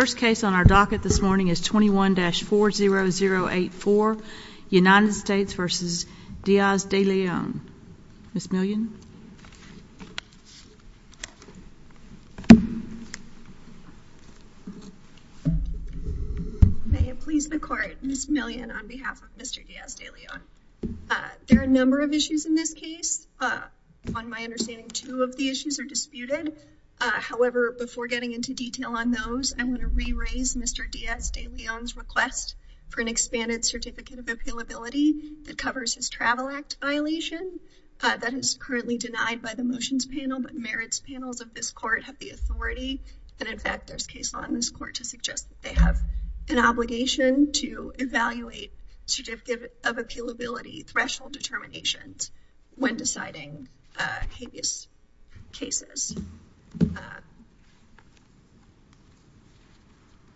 First case on our docket this morning is 21-40084, United States v. Diaz De Leon. Ms. Million? May it please the court, Ms. Million on behalf of Mr. Diaz De Leon, there are a number of issues in this case, on my understanding two of the issues are disputed, however before getting into detail on those I want to re-raise Mr. Diaz De Leon's request for an expanded certificate of appealability that covers his travel act violation, that is currently denied by the motions panel but merits panels of this court have the authority and in fact there's case law in this court to suggest that they have an obligation to evaluate certificate of appealability threshold determinations when deciding habeas cases.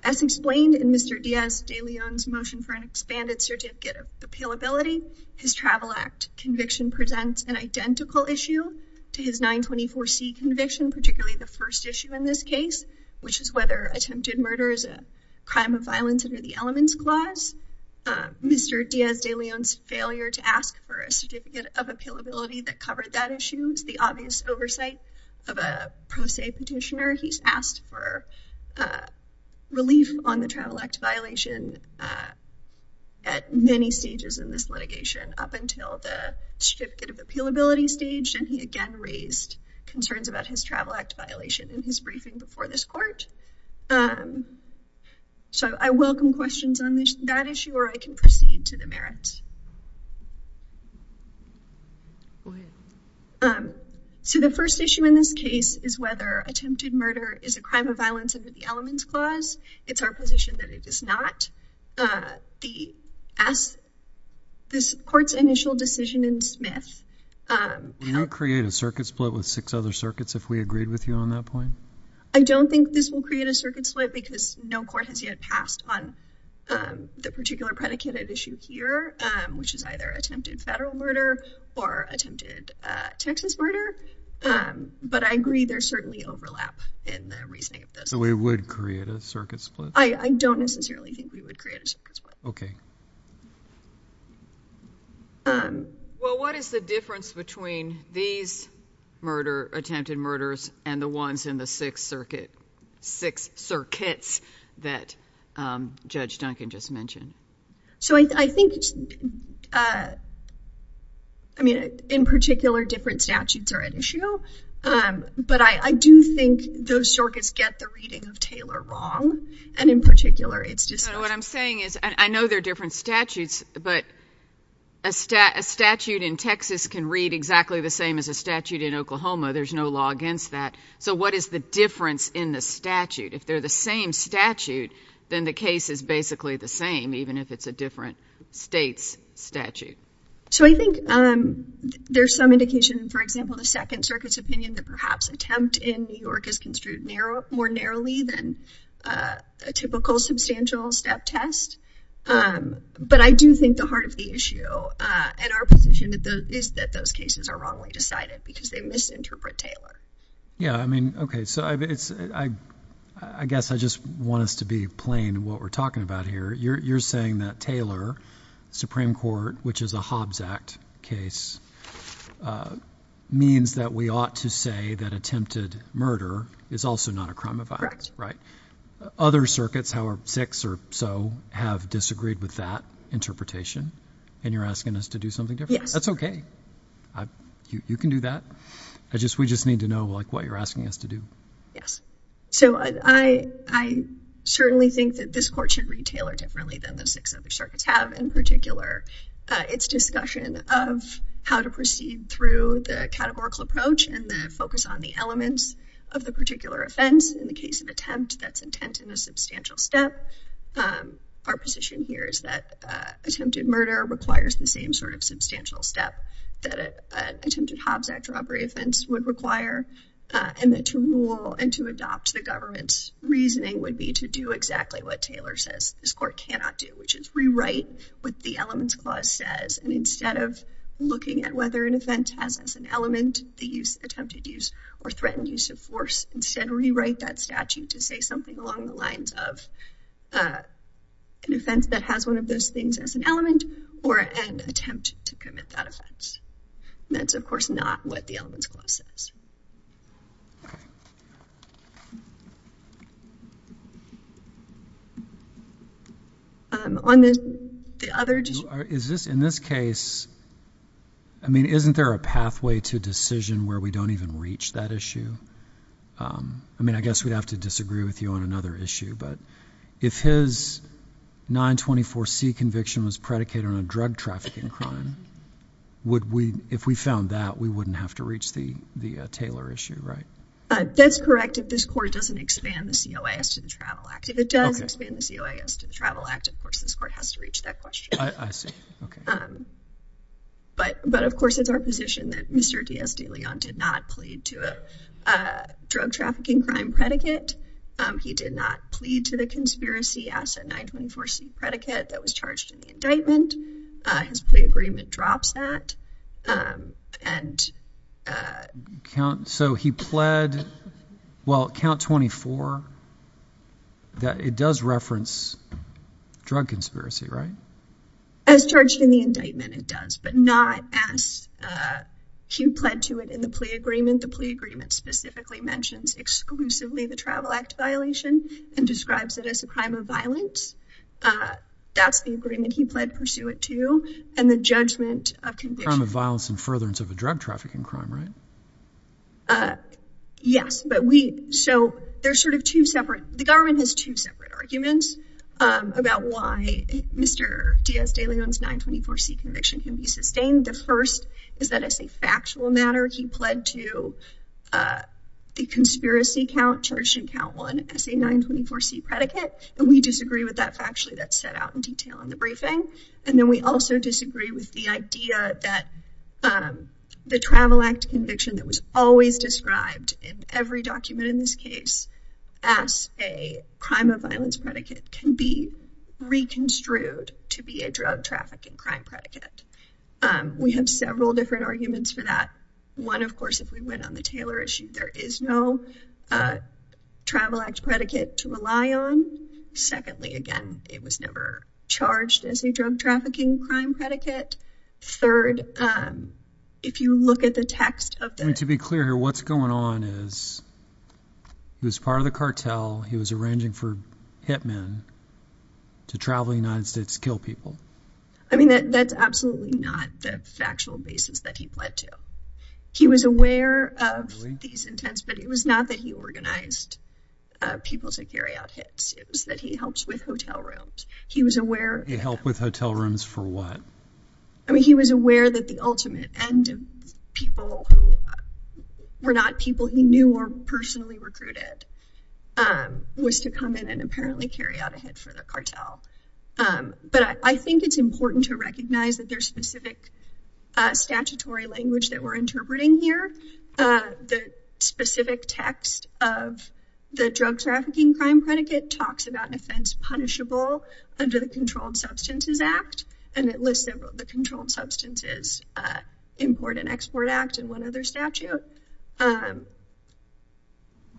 As explained in Mr. Diaz De Leon's motion for an expanded certificate of appealability, his travel act conviction presents an identical issue to his 924C conviction, particularly the first issue in this case, which is whether attempted murder is a crime of violence under the elements clause, Mr. Diaz De Leon's failure to ask for a certificate of appealability that covered that issue is the obvious oversight of a pro se petitioner, he's asked for relief on the travel act violation at many stages in this litigation up until the certificate of appealability stage and he again raised concerns about his travel act violation in his briefing before this court. So I welcome questions on that issue or I can proceed to the merits. So the first issue in this case is whether attempted murder is a crime of violence under the elements clause, it's our position that it is not. This court's initial decision in Smith. Can you create a circuit split with six other circuits if we agreed with you on that point? I don't think this will create a circuit split because no court has yet passed on the particular predicated issue here, which is either attempted federal murder or attempted Texas murder, but I agree there's certainly overlap in the reasoning of this. So we would create a circuit split? I don't necessarily think we would create a circuit split. Okay. Well, what is the difference between these attempted murders and the ones in the six circuits that Judge Duncan just mentioned? So I think, I mean, in particular different statutes are at issue, but I do think those circuits get the reading of Taylor wrong and in particular it's just not. What I'm saying is, I know they're different statutes, but a statute in Texas can read exactly the same as a statute in Oklahoma. There's no law against that. So what is the difference in the statute? If they're the same statute, then the case is basically the same, even if it's a different state's statute. So I think there's some indication, for example, the Second Circuit's opinion that perhaps an attempt in New York is construed more narrowly than a typical substantial step test. But I do think the heart of the issue and our position is that those cases are wrongly decided because they misinterpret Taylor. Yeah. I mean, okay. So I guess I just want us to be plain what we're talking about here. You're saying that Taylor, Supreme Court, which is a Hobbs Act case, means that we ought to say that attempted murder is also not a crime of violence, right? Other circuits, however, six or so, have disagreed with that interpretation and you're asking us to do something different? Yes. That's okay. You can do that. We just need to know what you're asking us to do. Yes. So I certainly think that this Court should read Taylor differently than the six other circuits have, in particular its discussion of how to proceed through the categorical approach and the focus on the elements of the particular offense. In the case of attempt, that's intent in a substantial step. Our position here is that attempted murder requires the same sort of substantial step that an attempted Hobbs Act robbery offense would require, and that to rule and to adopt the government's reasoning would be to do exactly what Taylor says this Court cannot do, which is rewrite what the Elements Clause says, and instead of looking at whether an attempted use or threatened use of force, instead rewrite that statute to say something along the lines of an offense that has one of those things as an element or an attempt to commit that offense. And that's, of course, not what the Elements Clause says. Okay. On the other just – Is this – in this case, I mean, isn't there a pathway to decision where we don't even reach that issue? I mean, I guess we'd have to disagree with you on another issue, but if his 924C conviction was predicated on a drug trafficking crime, would we – if we found that, we wouldn't have to reach the Taylor issue, right? That's correct if this Court doesn't expand the COAS to the Travel Act. If it does expand the COAS to the Travel Act, of course, this Court has to reach that question. I see. Okay. But, of course, it's our position that Mr. D. S. de Leon did not plead to a drug trafficking crime predicate. He did not plead to the conspiracy asset 924C predicate that was charged in the indictment. His plea agreement drops that, and – So, he pled – well, count 24, that it does reference drug conspiracy, right? As charged in the indictment, it does, but not as he pled to it in the plea agreement. The plea agreement specifically mentions exclusively the Travel Act violation and describes it as a crime of violence. That's the agreement he pled pursuant to, and the judgment of conviction – Crime of violence and furtherance of a drug trafficking crime, right? Yes, but we – so, there's sort of two separate – the government has two separate arguments about why Mr. D. S. de Leon's 924C conviction can be sustained. The first is that it's a factual matter. He pled to the conspiracy count charged in count 1 as a 924C predicate, and we disagree with that factually. That's set out in detail in the briefing. And then we also disagree with the idea that the Travel Act conviction that was always described in every document in this case as a crime of violence predicate can be reconstrued to be a drug trafficking crime predicate. We have several different arguments for that. One, of course, if we went on the Taylor issue, there is no Travel Act predicate to rely on. Secondly, again, it was never charged as a drug trafficking crime predicate. Third, if you look at the text of the – To be clear here, what's going on is he was part of the cartel, he was arranging for hitmen to travel to the United States to kill people. I mean, that's absolutely not the factual basis that he pled to. He was aware of these intents, but it was not that he organized people to carry out these issues, that he helps with hotel rooms. He was aware – He helped with hotel rooms for what? I mean, he was aware that the ultimate end of people who were not people he knew or personally recruited was to come in and apparently carry out a hit for the cartel. But I think it's important to recognize that there's specific statutory language that we're interpreting here. The specific text of the drug trafficking crime predicate talks about an offense punishable under the Controlled Substances Act, and it lists several – the Controlled Substances Import and Export Act and one other statute. A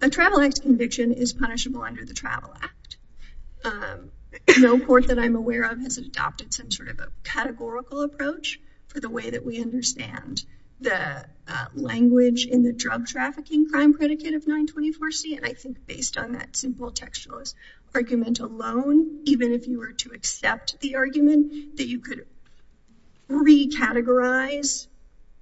Travel Act conviction is punishable under the Travel Act. No court that I'm aware of has adopted some sort of a categorical approach for the way we understand the language in the drug trafficking crime predicate of 924C. And I think based on that simple textualist argument alone, even if you were to accept the argument that you could recategorize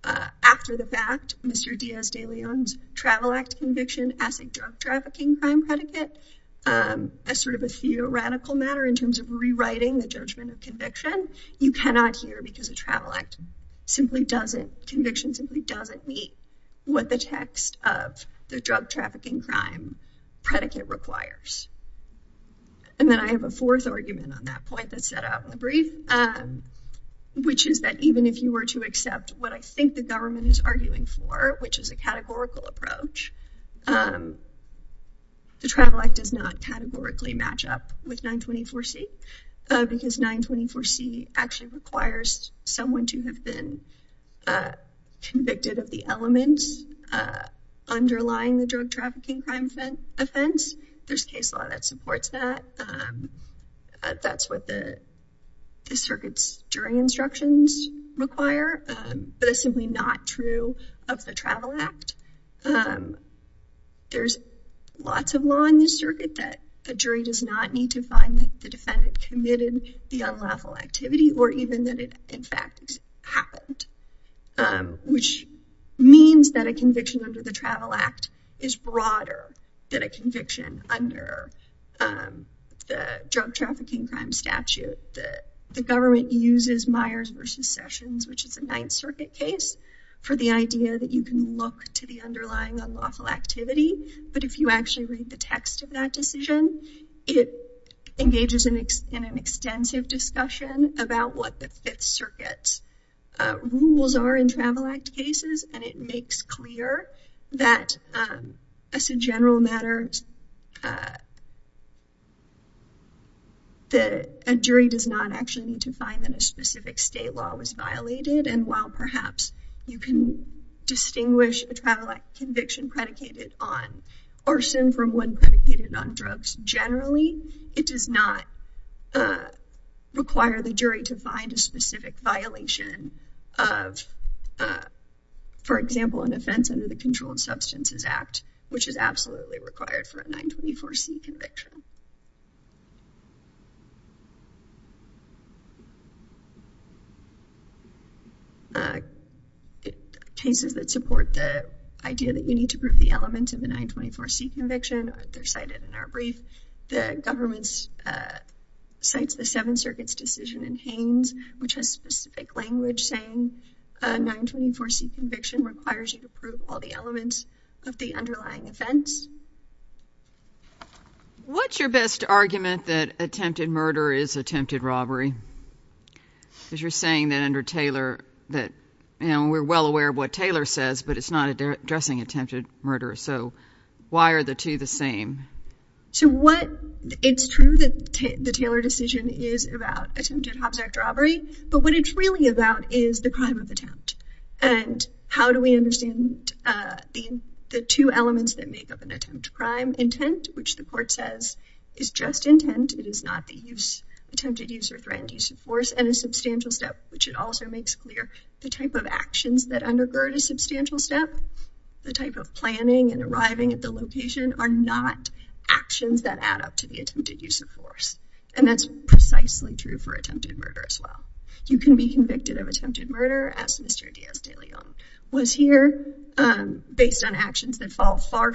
after the fact Mr. Diaz de Leon's Travel Act conviction as a drug trafficking crime predicate as sort of a theoretical matter in terms of rewriting the judgment of conviction, you cannot here because a Travel Act simply doesn't – conviction simply doesn't meet what the text of the drug trafficking crime predicate requires. And then I have a fourth argument on that point that's set out in the brief, which is that even if you were to accept what I think the government is arguing for, which is a categorical approach, the Travel Act does not categorically match up with 924C. Because 924C actually requires someone to have been convicted of the elements underlying the drug trafficking crime offense. There's case law that supports that. That's what the circuit's jury instructions require, but it's simply not true of the Travel Act. There's lots of law in this circuit that a jury does not need to find that the defendant committed the unlawful activity or even that it in fact happened, which means that a conviction under the Travel Act is broader than a conviction under the drug trafficking crime statute that the government uses Myers v. Sessions, which is a Ninth Circuit case, for the idea that you can look to the underlying unlawful activity. But if you actually read the text of that decision, it engages in an extensive discussion about what the Fifth Circuit's rules are in Travel Act cases, and it makes clear that as a general matter, a jury does not actually need to find that a specific state law was violated. And while perhaps you can distinguish a Travel Act conviction predicated on arson from one predicated on drugs generally, it does not require the jury to find a specific violation of, for example, an offense under the Controlled Substances Act, which is absolutely required for a 924C conviction. In cases that support the idea that you need to prove the elements of the 924C conviction, they're cited in our brief, the government cites the Seventh Circuit's decision in Haines, which has specific language saying a 924C conviction requires you to prove all the elements of the underlying offense. What's your best argument that attempted murder is attempted robbery? Because you're saying that under Taylor that, you know, we're well aware of what Taylor says, but it's not addressing attempted murder. So why are the two the same? So what, it's true that the Taylor decision is about attempted Hobbs Act robbery, but what it's really about is the crime of attempt. And how do we understand the two elements that make up an attempt crime? Intent, which the court says is just intent, it is not the use, attempted use or threatened use of force, and a substantial step, which it also makes clear the type of actions that undergird a substantial step, the type of planning and arriving at the location are not actions that add up to the attempted use of force. And that's precisely true for attempted murder as well. You can be convicted of attempted murder as Mr. Diaz de Leon was here, based on actions that fall far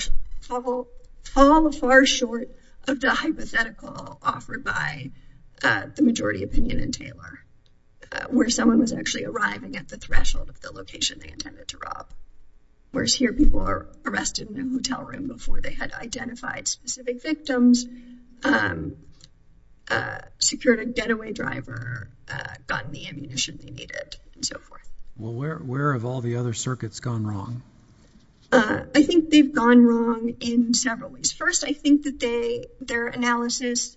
short of the hypothetical offered by the majority opinion in Taylor, where someone was actually arriving at the threshold of the location they intended to rob. Whereas here people are arrested in a hotel room before they had identified specific victims, secured a getaway driver, gotten the ammunition they needed. Well, where have all the other circuits gone wrong? I think they've gone wrong in several ways. First, I think that their analysis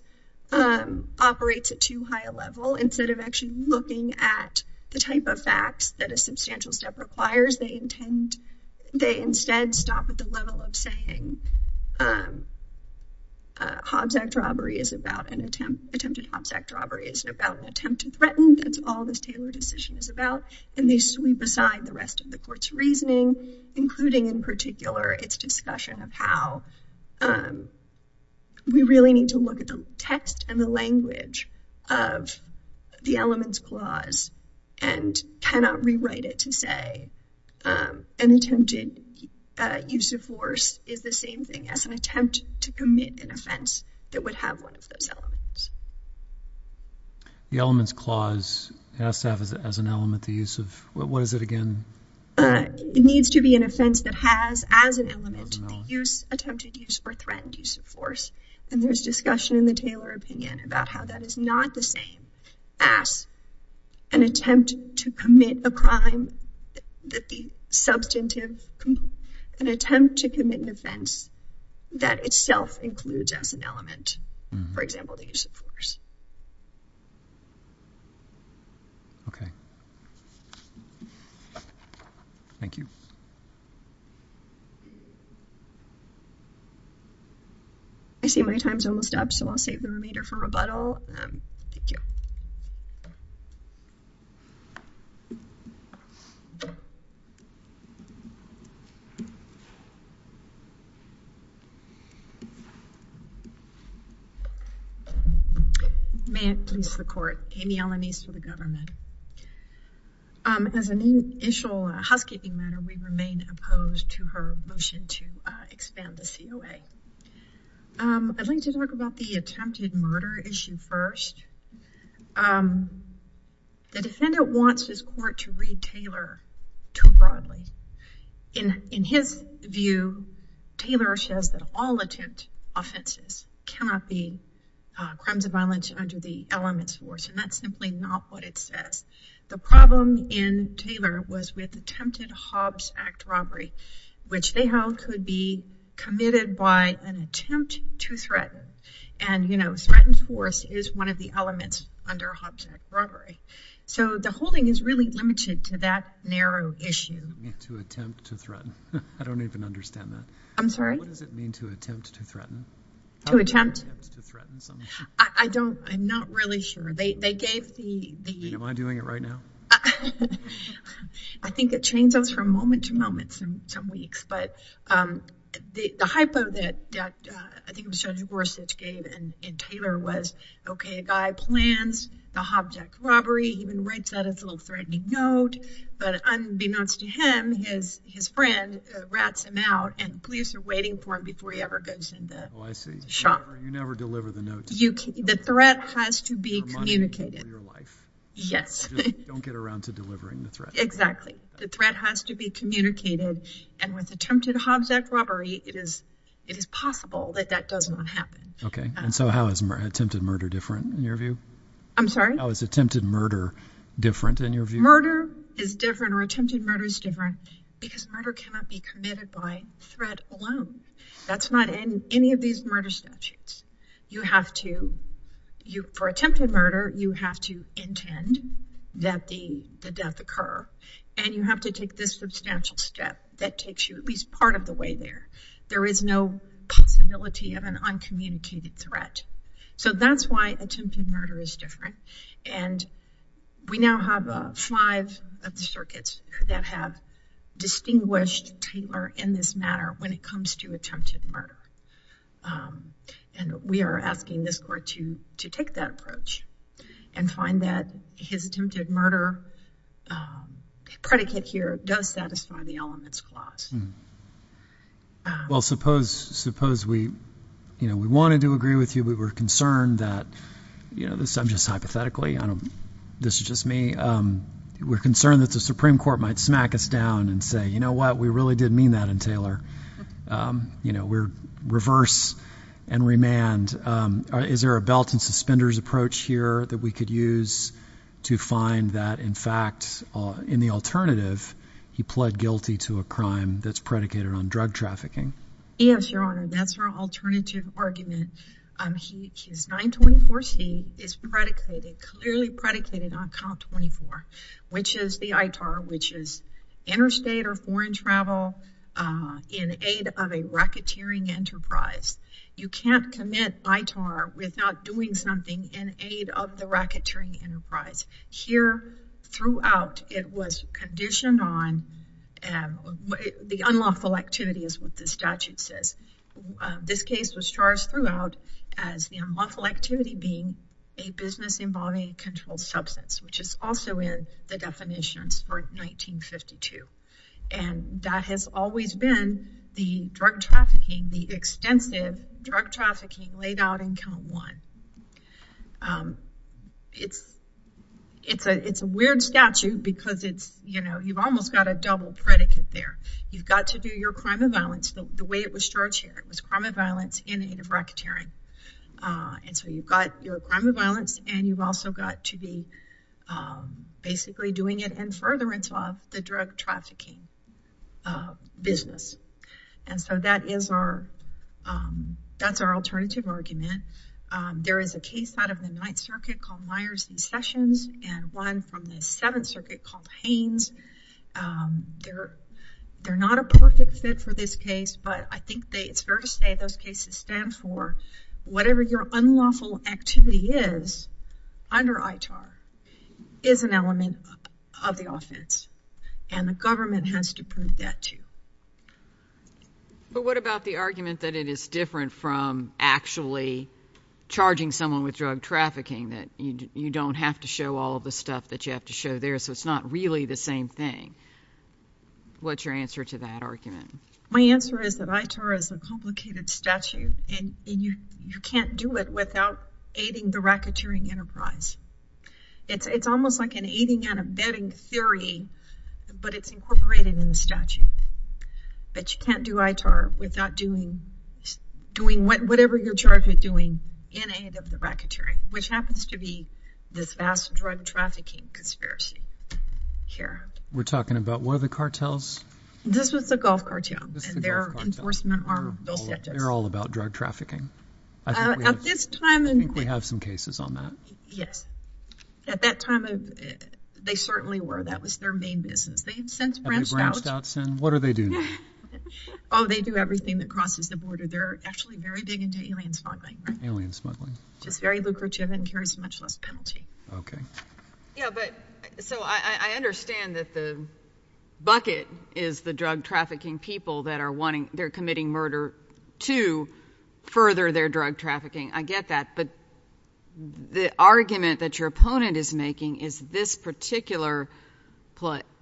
operates at too high a level. Instead of actually looking at the type of facts that a substantial step requires, they instead stop at the level of saying, attempted Hobbs Act robbery is about an attempt to threaten. That's all this Taylor decision is about. And they sweep aside the rest of the court's reasoning, including in particular, its discussion of how we really need to look at the text and the language of the elements clause and cannot rewrite it to say an attempted use of force is the same thing as an attempt to commit an offense that would have one of those elements. The elements clause has to have as an element the use of, what is it again? It needs to be an offense that has as an element the use, attempted use or threatened use of force. And there's discussion in the Taylor opinion about how that is not the same as an attempt to commit a crime that the substantive, an attempt to commit an offense that itself includes as an element the use of force. Okay. Thank you. I see my time's almost up, so I'll save the remainder for rebuttal. Thank you. May it please the court, Amy Alanis for the government. As an initial housekeeping matter, we remain opposed to her motion to expand the COA. I'd like to talk about the attempted murder issue first. The defendant wants his court to read Taylor too broadly. In his view, Taylor says that all crimes of violence under the elements force, and that's simply not what it says. The problem in Taylor was with attempted Hobbs Act robbery, which they held could be committed by an attempt to threaten. And, you know, threatened force is one of the elements under Hobbs Act robbery. So the holding is really limited to that narrow issue. To attempt to threaten. I don't even understand that. I'm sorry? What does it mean to attempt to threaten? To attempt? To threaten something? I don't, I'm not really sure. They gave the... Do you mind doing it right now? I think it changes from moment to moment in some weeks. But the hypo that I think it was Judge Gorsuch gave in Taylor was, okay, a guy plans the Hobbs Act robbery. He even writes that as a little threatening note. But unbeknownst to him, his friend rats him out, and police are waiting for him before he ever goes in the shop. You never deliver the note. The threat has to be communicated. Yes. Don't get around to delivering the threat. Exactly. The threat has to be communicated. And with attempted Hobbs Act robbery, it is possible that that does not happen. Okay. And so how is attempted murder different in your view? I'm sorry? How is attempted murder different in your view? Murder is different or attempted murder is different because murder cannot be committed by threat alone. That's not in any of these murder statutes. You have to, for attempted murder, you have to intend that the death occur. And you have to take this substantial step that takes you at least part of the way there. There is no possibility of an uncommunicated threat. So that's why attempted murder is different. And we now have five of the circuits that have distinguished Taylor in this matter when it comes to attempted murder. And we are asking this court to take that approach and find that his attempted murder predicate here does satisfy the elements clause. Well, suppose we wanted to agree with you, we were concerned that, I'm just hypothetically, this is just me, we're concerned that the Supreme Court might smack us down and say, you know what, we really did mean that in Taylor. You know, we're reverse and remand. Is there a belt and suspenders approach here that we could use to find that in fact, in the alternative, he pled guilty to a crime that's predicated on drug trafficking? Yes, Your Honor, that's our alternative argument. His 924C is predicated, clearly predicated on COMP 24, which is the ITAR, which is interstate or foreign travel in aid of a racketeering enterprise. You can't commit ITAR without doing something in aid of the racketeering enterprise. Here, throughout, it was conditioned on the unlawful activity is what the statute says. This case was charged throughout as the unlawful activity being a business involving a controlled substance, which is also in the definitions for 1952. And that has always been the drug trafficking, the extensive drug trafficking laid out in COMP 1. It's a weird statute because it's, you know, you've almost got a double predicate there. You've got to do your crime of violence the way it was charged here. It was crime of violence in aid of racketeering. And so you've got your crime of violence and you've also got to be basically doing it in furtherance of the drug trafficking business. And so that is our, that's our alternative argument. There is a case out of the Ninth Circuit called Myers and Sessions and one from the Seventh Circuit called Haynes. They're, they're not a perfect fit for this case, but I think they, it's fair to say those cases stand for whatever your unlawful activity is under ITAR is an element of the offense. And the government has to prove that too. But what about the argument that it is different from actually charging someone with drug trafficking, that you don't have to show all of the stuff that you have to show there, so it's not really the same thing. What's your answer to that argument? My answer is that ITAR is a complicated statute and you can't do it without aiding the racketeering enterprise. It's almost like an aiding and abetting theory, but it's incorporated in the statute. But you can't do ITAR without doing, doing whatever you're charged with doing in aid of the racketeering, which happens to be this vast drug trafficking conspiracy here. We're talking about, what are the cartels? This was the Gulf Cartel and their enforcement arm, Bill Stetson. They're all about drug trafficking? I think we have some cases on that. Yes. At that time, they certainly were. That was their main business. Have they branched out? What do they do now? Oh, they do everything that crosses the border. They're actually very big into alien smuggling. Alien smuggling. Just very lucrative and carries much less penalty. Okay. Yeah, but, so I understand that the bucket is the drug trafficking people that are wanting, they're committing murder to further their drug trafficking. I get that. But the argument that your opponent is making is this particular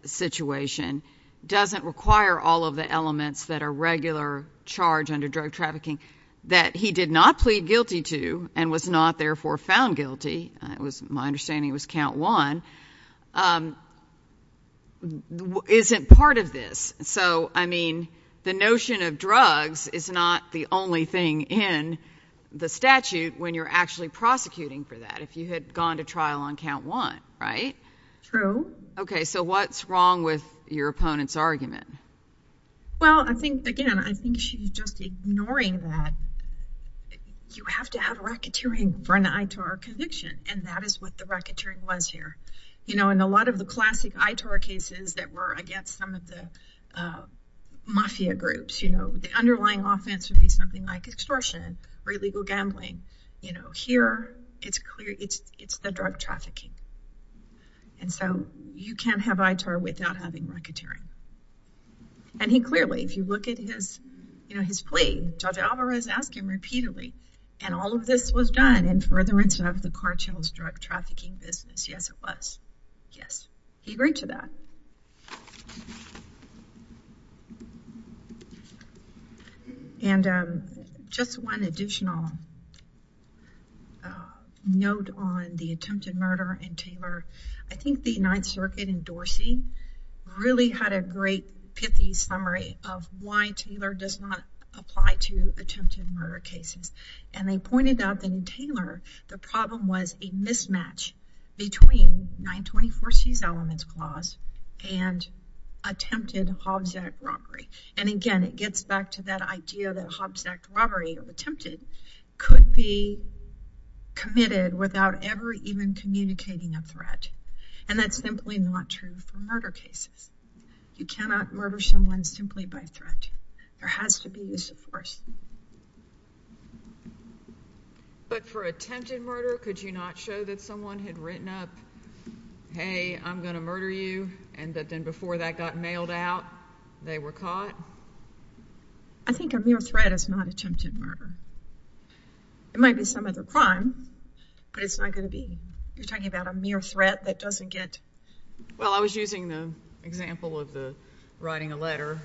situation doesn't require all of the elements that are regular charge under drug trafficking that he did not plead guilty to and was not therefore found guilty. My understanding was count one isn't part of this. So, I mean, the notion of drugs is not the only thing in the statute when you're actually prosecuting for that. If you had gone to trial on count one, right? True. Okay. So what's wrong with your opponent's argument? Well, I think, again, I think she's just ignoring that you have to have a racketeering for an ITAR conviction. And that is what the racketeering was here. You know, in a lot of the classic ITAR cases that were against some of the mafia groups, you know, the underlying offense would be something like extortion or illegal gambling. You know, here it's clear it's the drug trafficking. And so you can't have ITAR without having racketeering. And he clearly, if you look at his, you know, his plea, Judge Alvarez asked him repeatedly, and all of this was done in furtherance of the cartel's drug trafficking business. Yes, it was. Yes. He agreed to that. And just one additional note on the attempted murder in Taylor. I think the Ninth Circuit in Dorsey really had a great summary of why Taylor does not apply to attempted murder cases. And they pointed out that in Taylor, the problem was a mismatch between 924c's elements clause and attempted Hobbs Act robbery. And again, it gets back to that idea that Hobbs Act robbery attempted could be committed without ever even communicating a threat. And that's simply not true for murder cases. You cannot murder someone simply by threat. There has to be use of force. But for attempted murder, could you not show that someone had written up, hey, I'm going to murder you, and that then before that got mailed out, they were caught? I think a mere threat is not attempted murder. It might be some other crime, but it's not going to be. You're talking about a mere threat that doesn't get. Well, I was using the example of the writing a letter,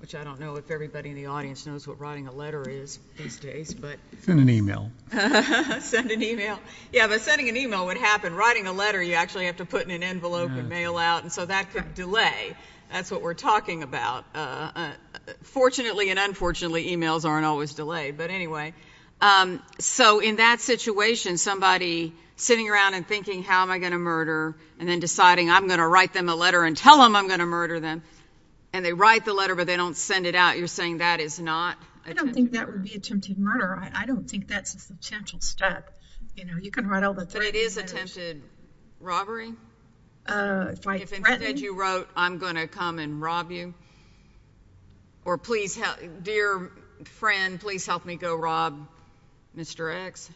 which I don't know if everybody in the audience knows what writing a letter is these days. Send an email. Send an email. Yeah, but sending an email would happen. Writing a letter, you actually have to put in an envelope and mail out. And so that could delay. That's what we're talking about. Fortunately and unfortunately, emails aren't always delayed. But anyway, so in that situation, somebody sitting around and I'm going to write them a letter and tell them I'm going to murder them. And they write the letter, but they don't send it out. You're saying that is not? I don't think that would be attempted murder. I don't think that's a substantial step. You know, you can write all that. But it is attempted robbery. If you wrote, I'm going to come and rob you. Or please, dear friend, please help me go rob Mr. X.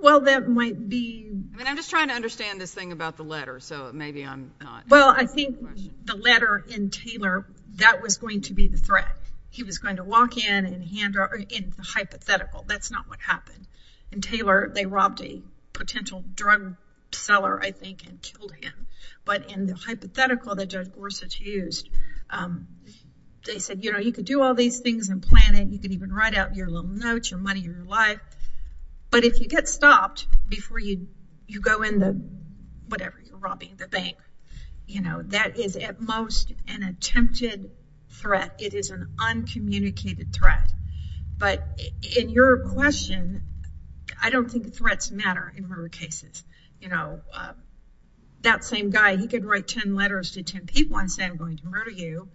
Well, that might be. I mean, I'm just trying to understand this thing about the letter, so maybe I'm not. Well, I think the letter in Taylor, that was going to be the threat. He was going to walk in and hand her in the hypothetical. That's not what happened. In Taylor, they robbed a potential drug seller, I think, and killed him. But in the hypothetical that Judge Gorsuch used, they said, you know, you could do all these things and plan it. You could even write out your little notes, your money, your life. But if you get stopped before you go in whatever, you're robbing the bank. You know, that is at most an attempted threat. It is an uncommunicated threat. But in your question, I don't think threats matter in murder cases. You know, that same guy, he could write 10 letters to 10 people and say, I'm going to murder you.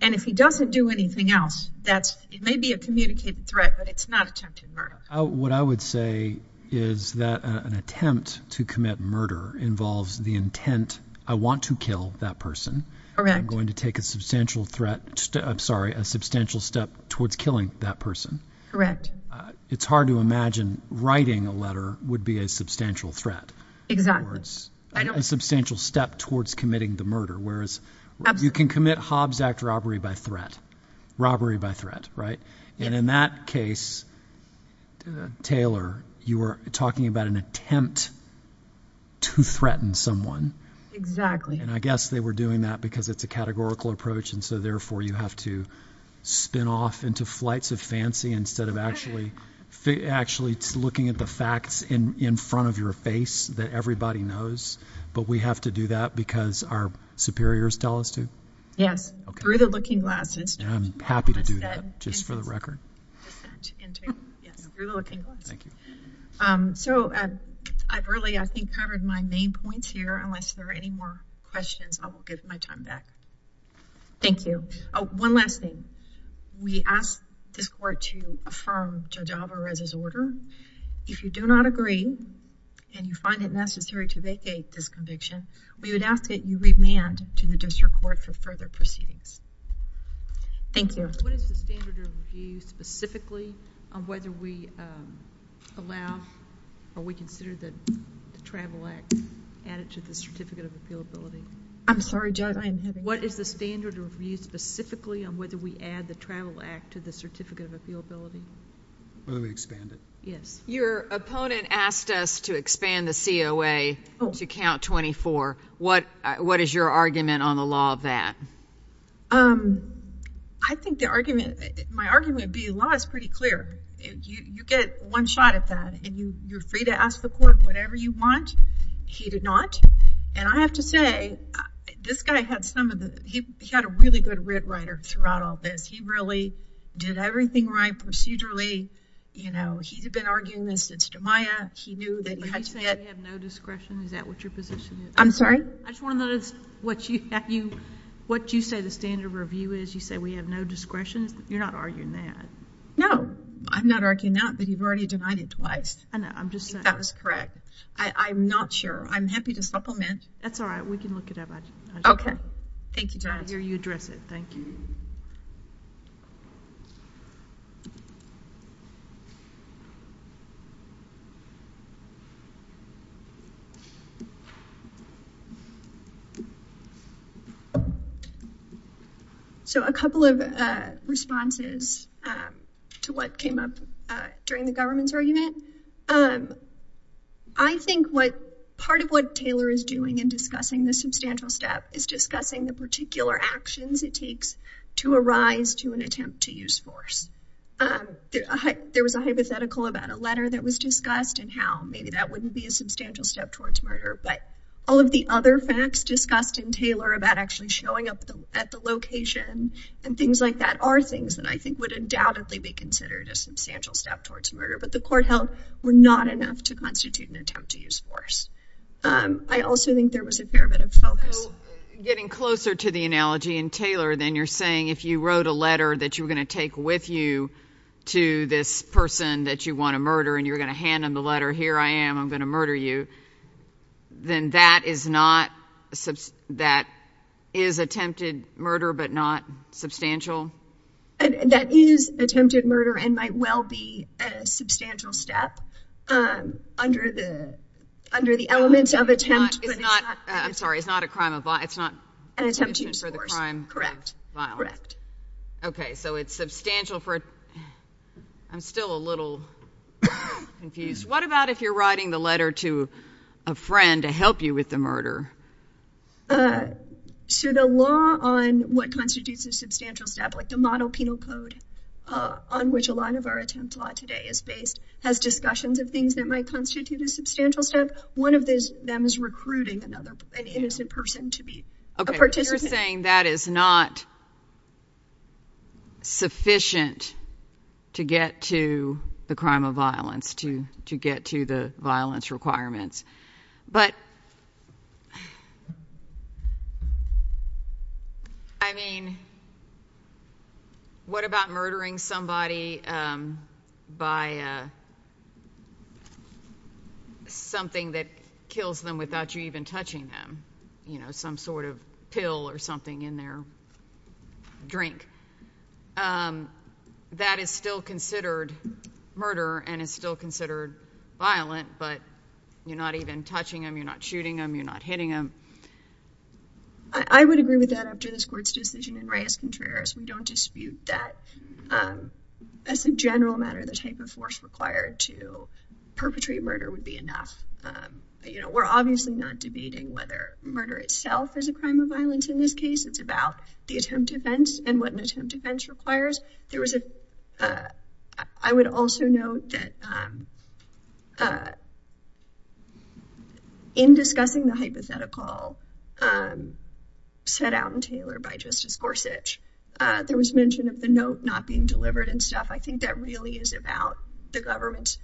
And if he doesn't do anything else, it may be a communicated threat, but it's not attempted murder. What I would say is that an attempt to commit murder involves the intent, I want to kill that person. I'm going to take a substantial threat. I'm sorry, a substantial step towards killing that person. Correct. It's hard to imagine writing a letter would be a substantial threat. Exactly. It's a substantial step towards committing the murder, whereas you can commit Hobbs Act robbery by threat, robbery by threat, right? And in that case, Taylor, you were talking about an attempt to threaten someone. Exactly. And I guess they were doing that because it's a categorical approach. And so therefore, you have to spin off into flights of fancy instead of actually looking at the facts in front of your face that everybody knows. But we have to do that because our superiors tell us to? Yes. Through the looking glass. I'm happy to do that, just for the record. So I've really, I think, covered my main points here. Unless there are any more questions, I will give my time back. Thank you. One last thing. We asked this court to we would ask that you remand to the district court for further proceedings. Thank you. What is the standard of review specifically on whether we allow or we consider the Travel Act added to the Certificate of Appealability? I'm sorry, Judge, I am having What is the standard of review specifically on whether we add the Travel Act to the Certificate of Appealability? Whether we expand it? Yes. Your opponent asked us to expand the COA to count 24. What is your argument on the law of that? I think the argument, my argument would be the law is pretty clear. You get one shot at that, and you're free to ask the court whatever you want. He did not. And I have to say, this guy had some of the, he had a really good writ writer throughout all this. He really did everything right procedurally. You know, he's been arguing this since Jamiah. He knew that we have no discretion. Is that what your position is? I'm sorry? I just want to know what you say the standard of review is. You say we have no discretion. You're not arguing that. No, I'm not arguing that, but you've already denied it twice. I know, I'm just saying. That was correct. I'm not sure. I'm happy to supplement. That's all right. We can look it up. Okay. Thank you, Judge. I hear you address it. Thank you. So, a couple of responses to what came up during the government's argument. I think what, part of what Taylor is doing in discussing the substantial step is discussing the particular actions it takes to arise to an attempt to use force. There was a hypothetical about a letter that was discussed and how maybe that wouldn't be a substantial step towards murder, but all of the other facts discussed in Taylor about actually showing up at the location and things like that are things that I think would undoubtedly be considered a substantial step towards murder, but the court held were not enough to constitute an attempt to use force. I also think there was a fair bit of focus. So, getting closer to the analogy in Taylor, then you're saying if you wrote a letter that you were going to take with you to this person that you want to murder and you're going to hand them the letter, here I am, I'm going to murder you, then that is attempted murder, but not substantial? That is attempted murder and might well be a substantial step under the elements of attempt. I'm sorry. It's not a crime of violence. It's not an attempt to use force. Correct. Okay. So, it's substantial. I'm still a little confused. What about if you're writing the letter to a friend to help you with the murder? So, the law on what constitutes a substantial step, like the model penal code on which a lot of our attempt law today is based, has discussions of things that might constitute a substantial step. One of them is recruiting an innocent person to be a participant. You're saying that is not sufficient to get to the crime of violence, to get to the violence requirements. But, I mean, what about murdering somebody by something that kills them without you even touching them? You know, some sort of pill or something in their drink. That is still considered murder and is still considered violent, but you're not even touching them, you're not shooting them, you're not hitting them. I would agree with that after this Court's decision in Reyes-Contreras. We don't dispute that. As a general matter, the type of force required to murder itself is a crime of violence in this case. It's about the attempt defense and what an attempt defense requires. I would also note that in discussing the hypothetical set out in Taylor by Justice Gorsuch, there was mention of the note not being delivered and stuff. I think that really is about the government's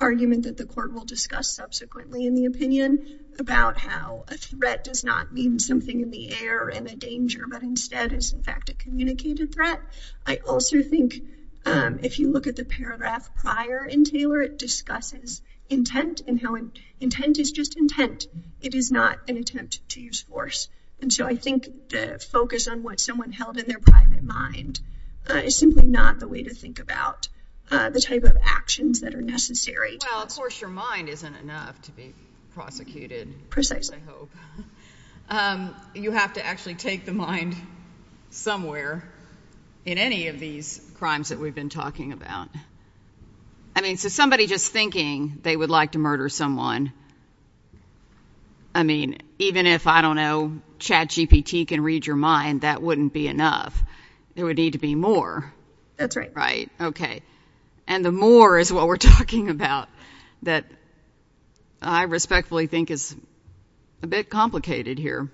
argument that the Court will discuss subsequently in the opinion about how a threat does not mean something in the air and a danger, but instead is in fact a communicated threat. I also think if you look at the paragraph prior in Taylor, it discusses intent and how intent is just intent. It is not an attempt to use force. And so I think the focus on what someone held in their private mind is simply not the way to think about the type of actions that are necessary. Well, of course, your mind isn't enough to be prosecuted, I hope. You have to actually take the mind somewhere in any of these crimes that we've been talking about. I mean, so somebody just thinking they would like to murder someone, I mean, even if, I don't know, Chad GPT can read your mind, that wouldn't be enough. There would need to be more. That's right. Right. Okay. And the more is what we're talking about, that I respectfully think is a bit complicated here.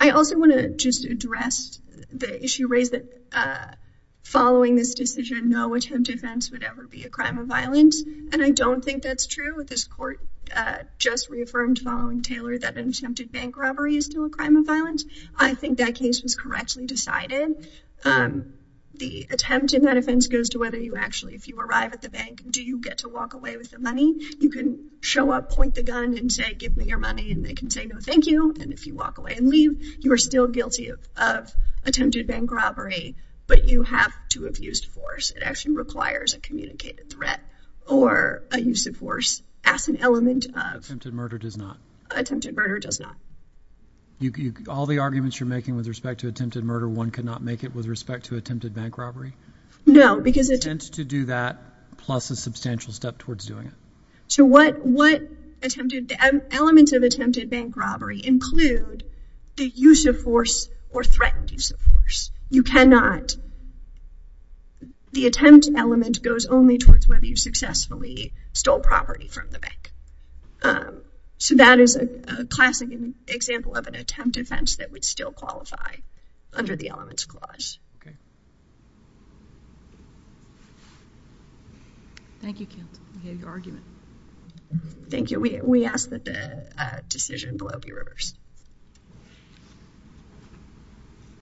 I also want to just address the issue raised that following this decision, no attempt offense would ever be a crime of violence. And I don't think that's true. This Court just reaffirmed following Taylor that an attempted bank robbery is still a crime of violence. I think that case was correctly decided. The attempt in that offense goes to whether you actually, if you arrive at the bank, do you get to walk away with the money? You can show up, point the gun, and say, give me your money. And they can say, no, thank you. And if you walk away and leave, you are still guilty of attempted bank robbery, but you have to have used force. It actually requires a communicated threat or a use of force as an element of... Attempted murder does not. Attempted murder does not. All the arguments you're making with respect to attempted murder, one could not make it with respect to attempted bank robbery? No, because... To do that plus a substantial step towards doing it. So what attempted... Elements of attempted bank robbery include the use of force or threatened use of force. You cannot... The attempt element goes only towards whether you successfully stole property from the bank. So that is a classic example of an attempt offense that would still qualify under the elements clause. Okay. Thank you, Kent. We have your argument. Thank you. We ask that the decision blow be reversed.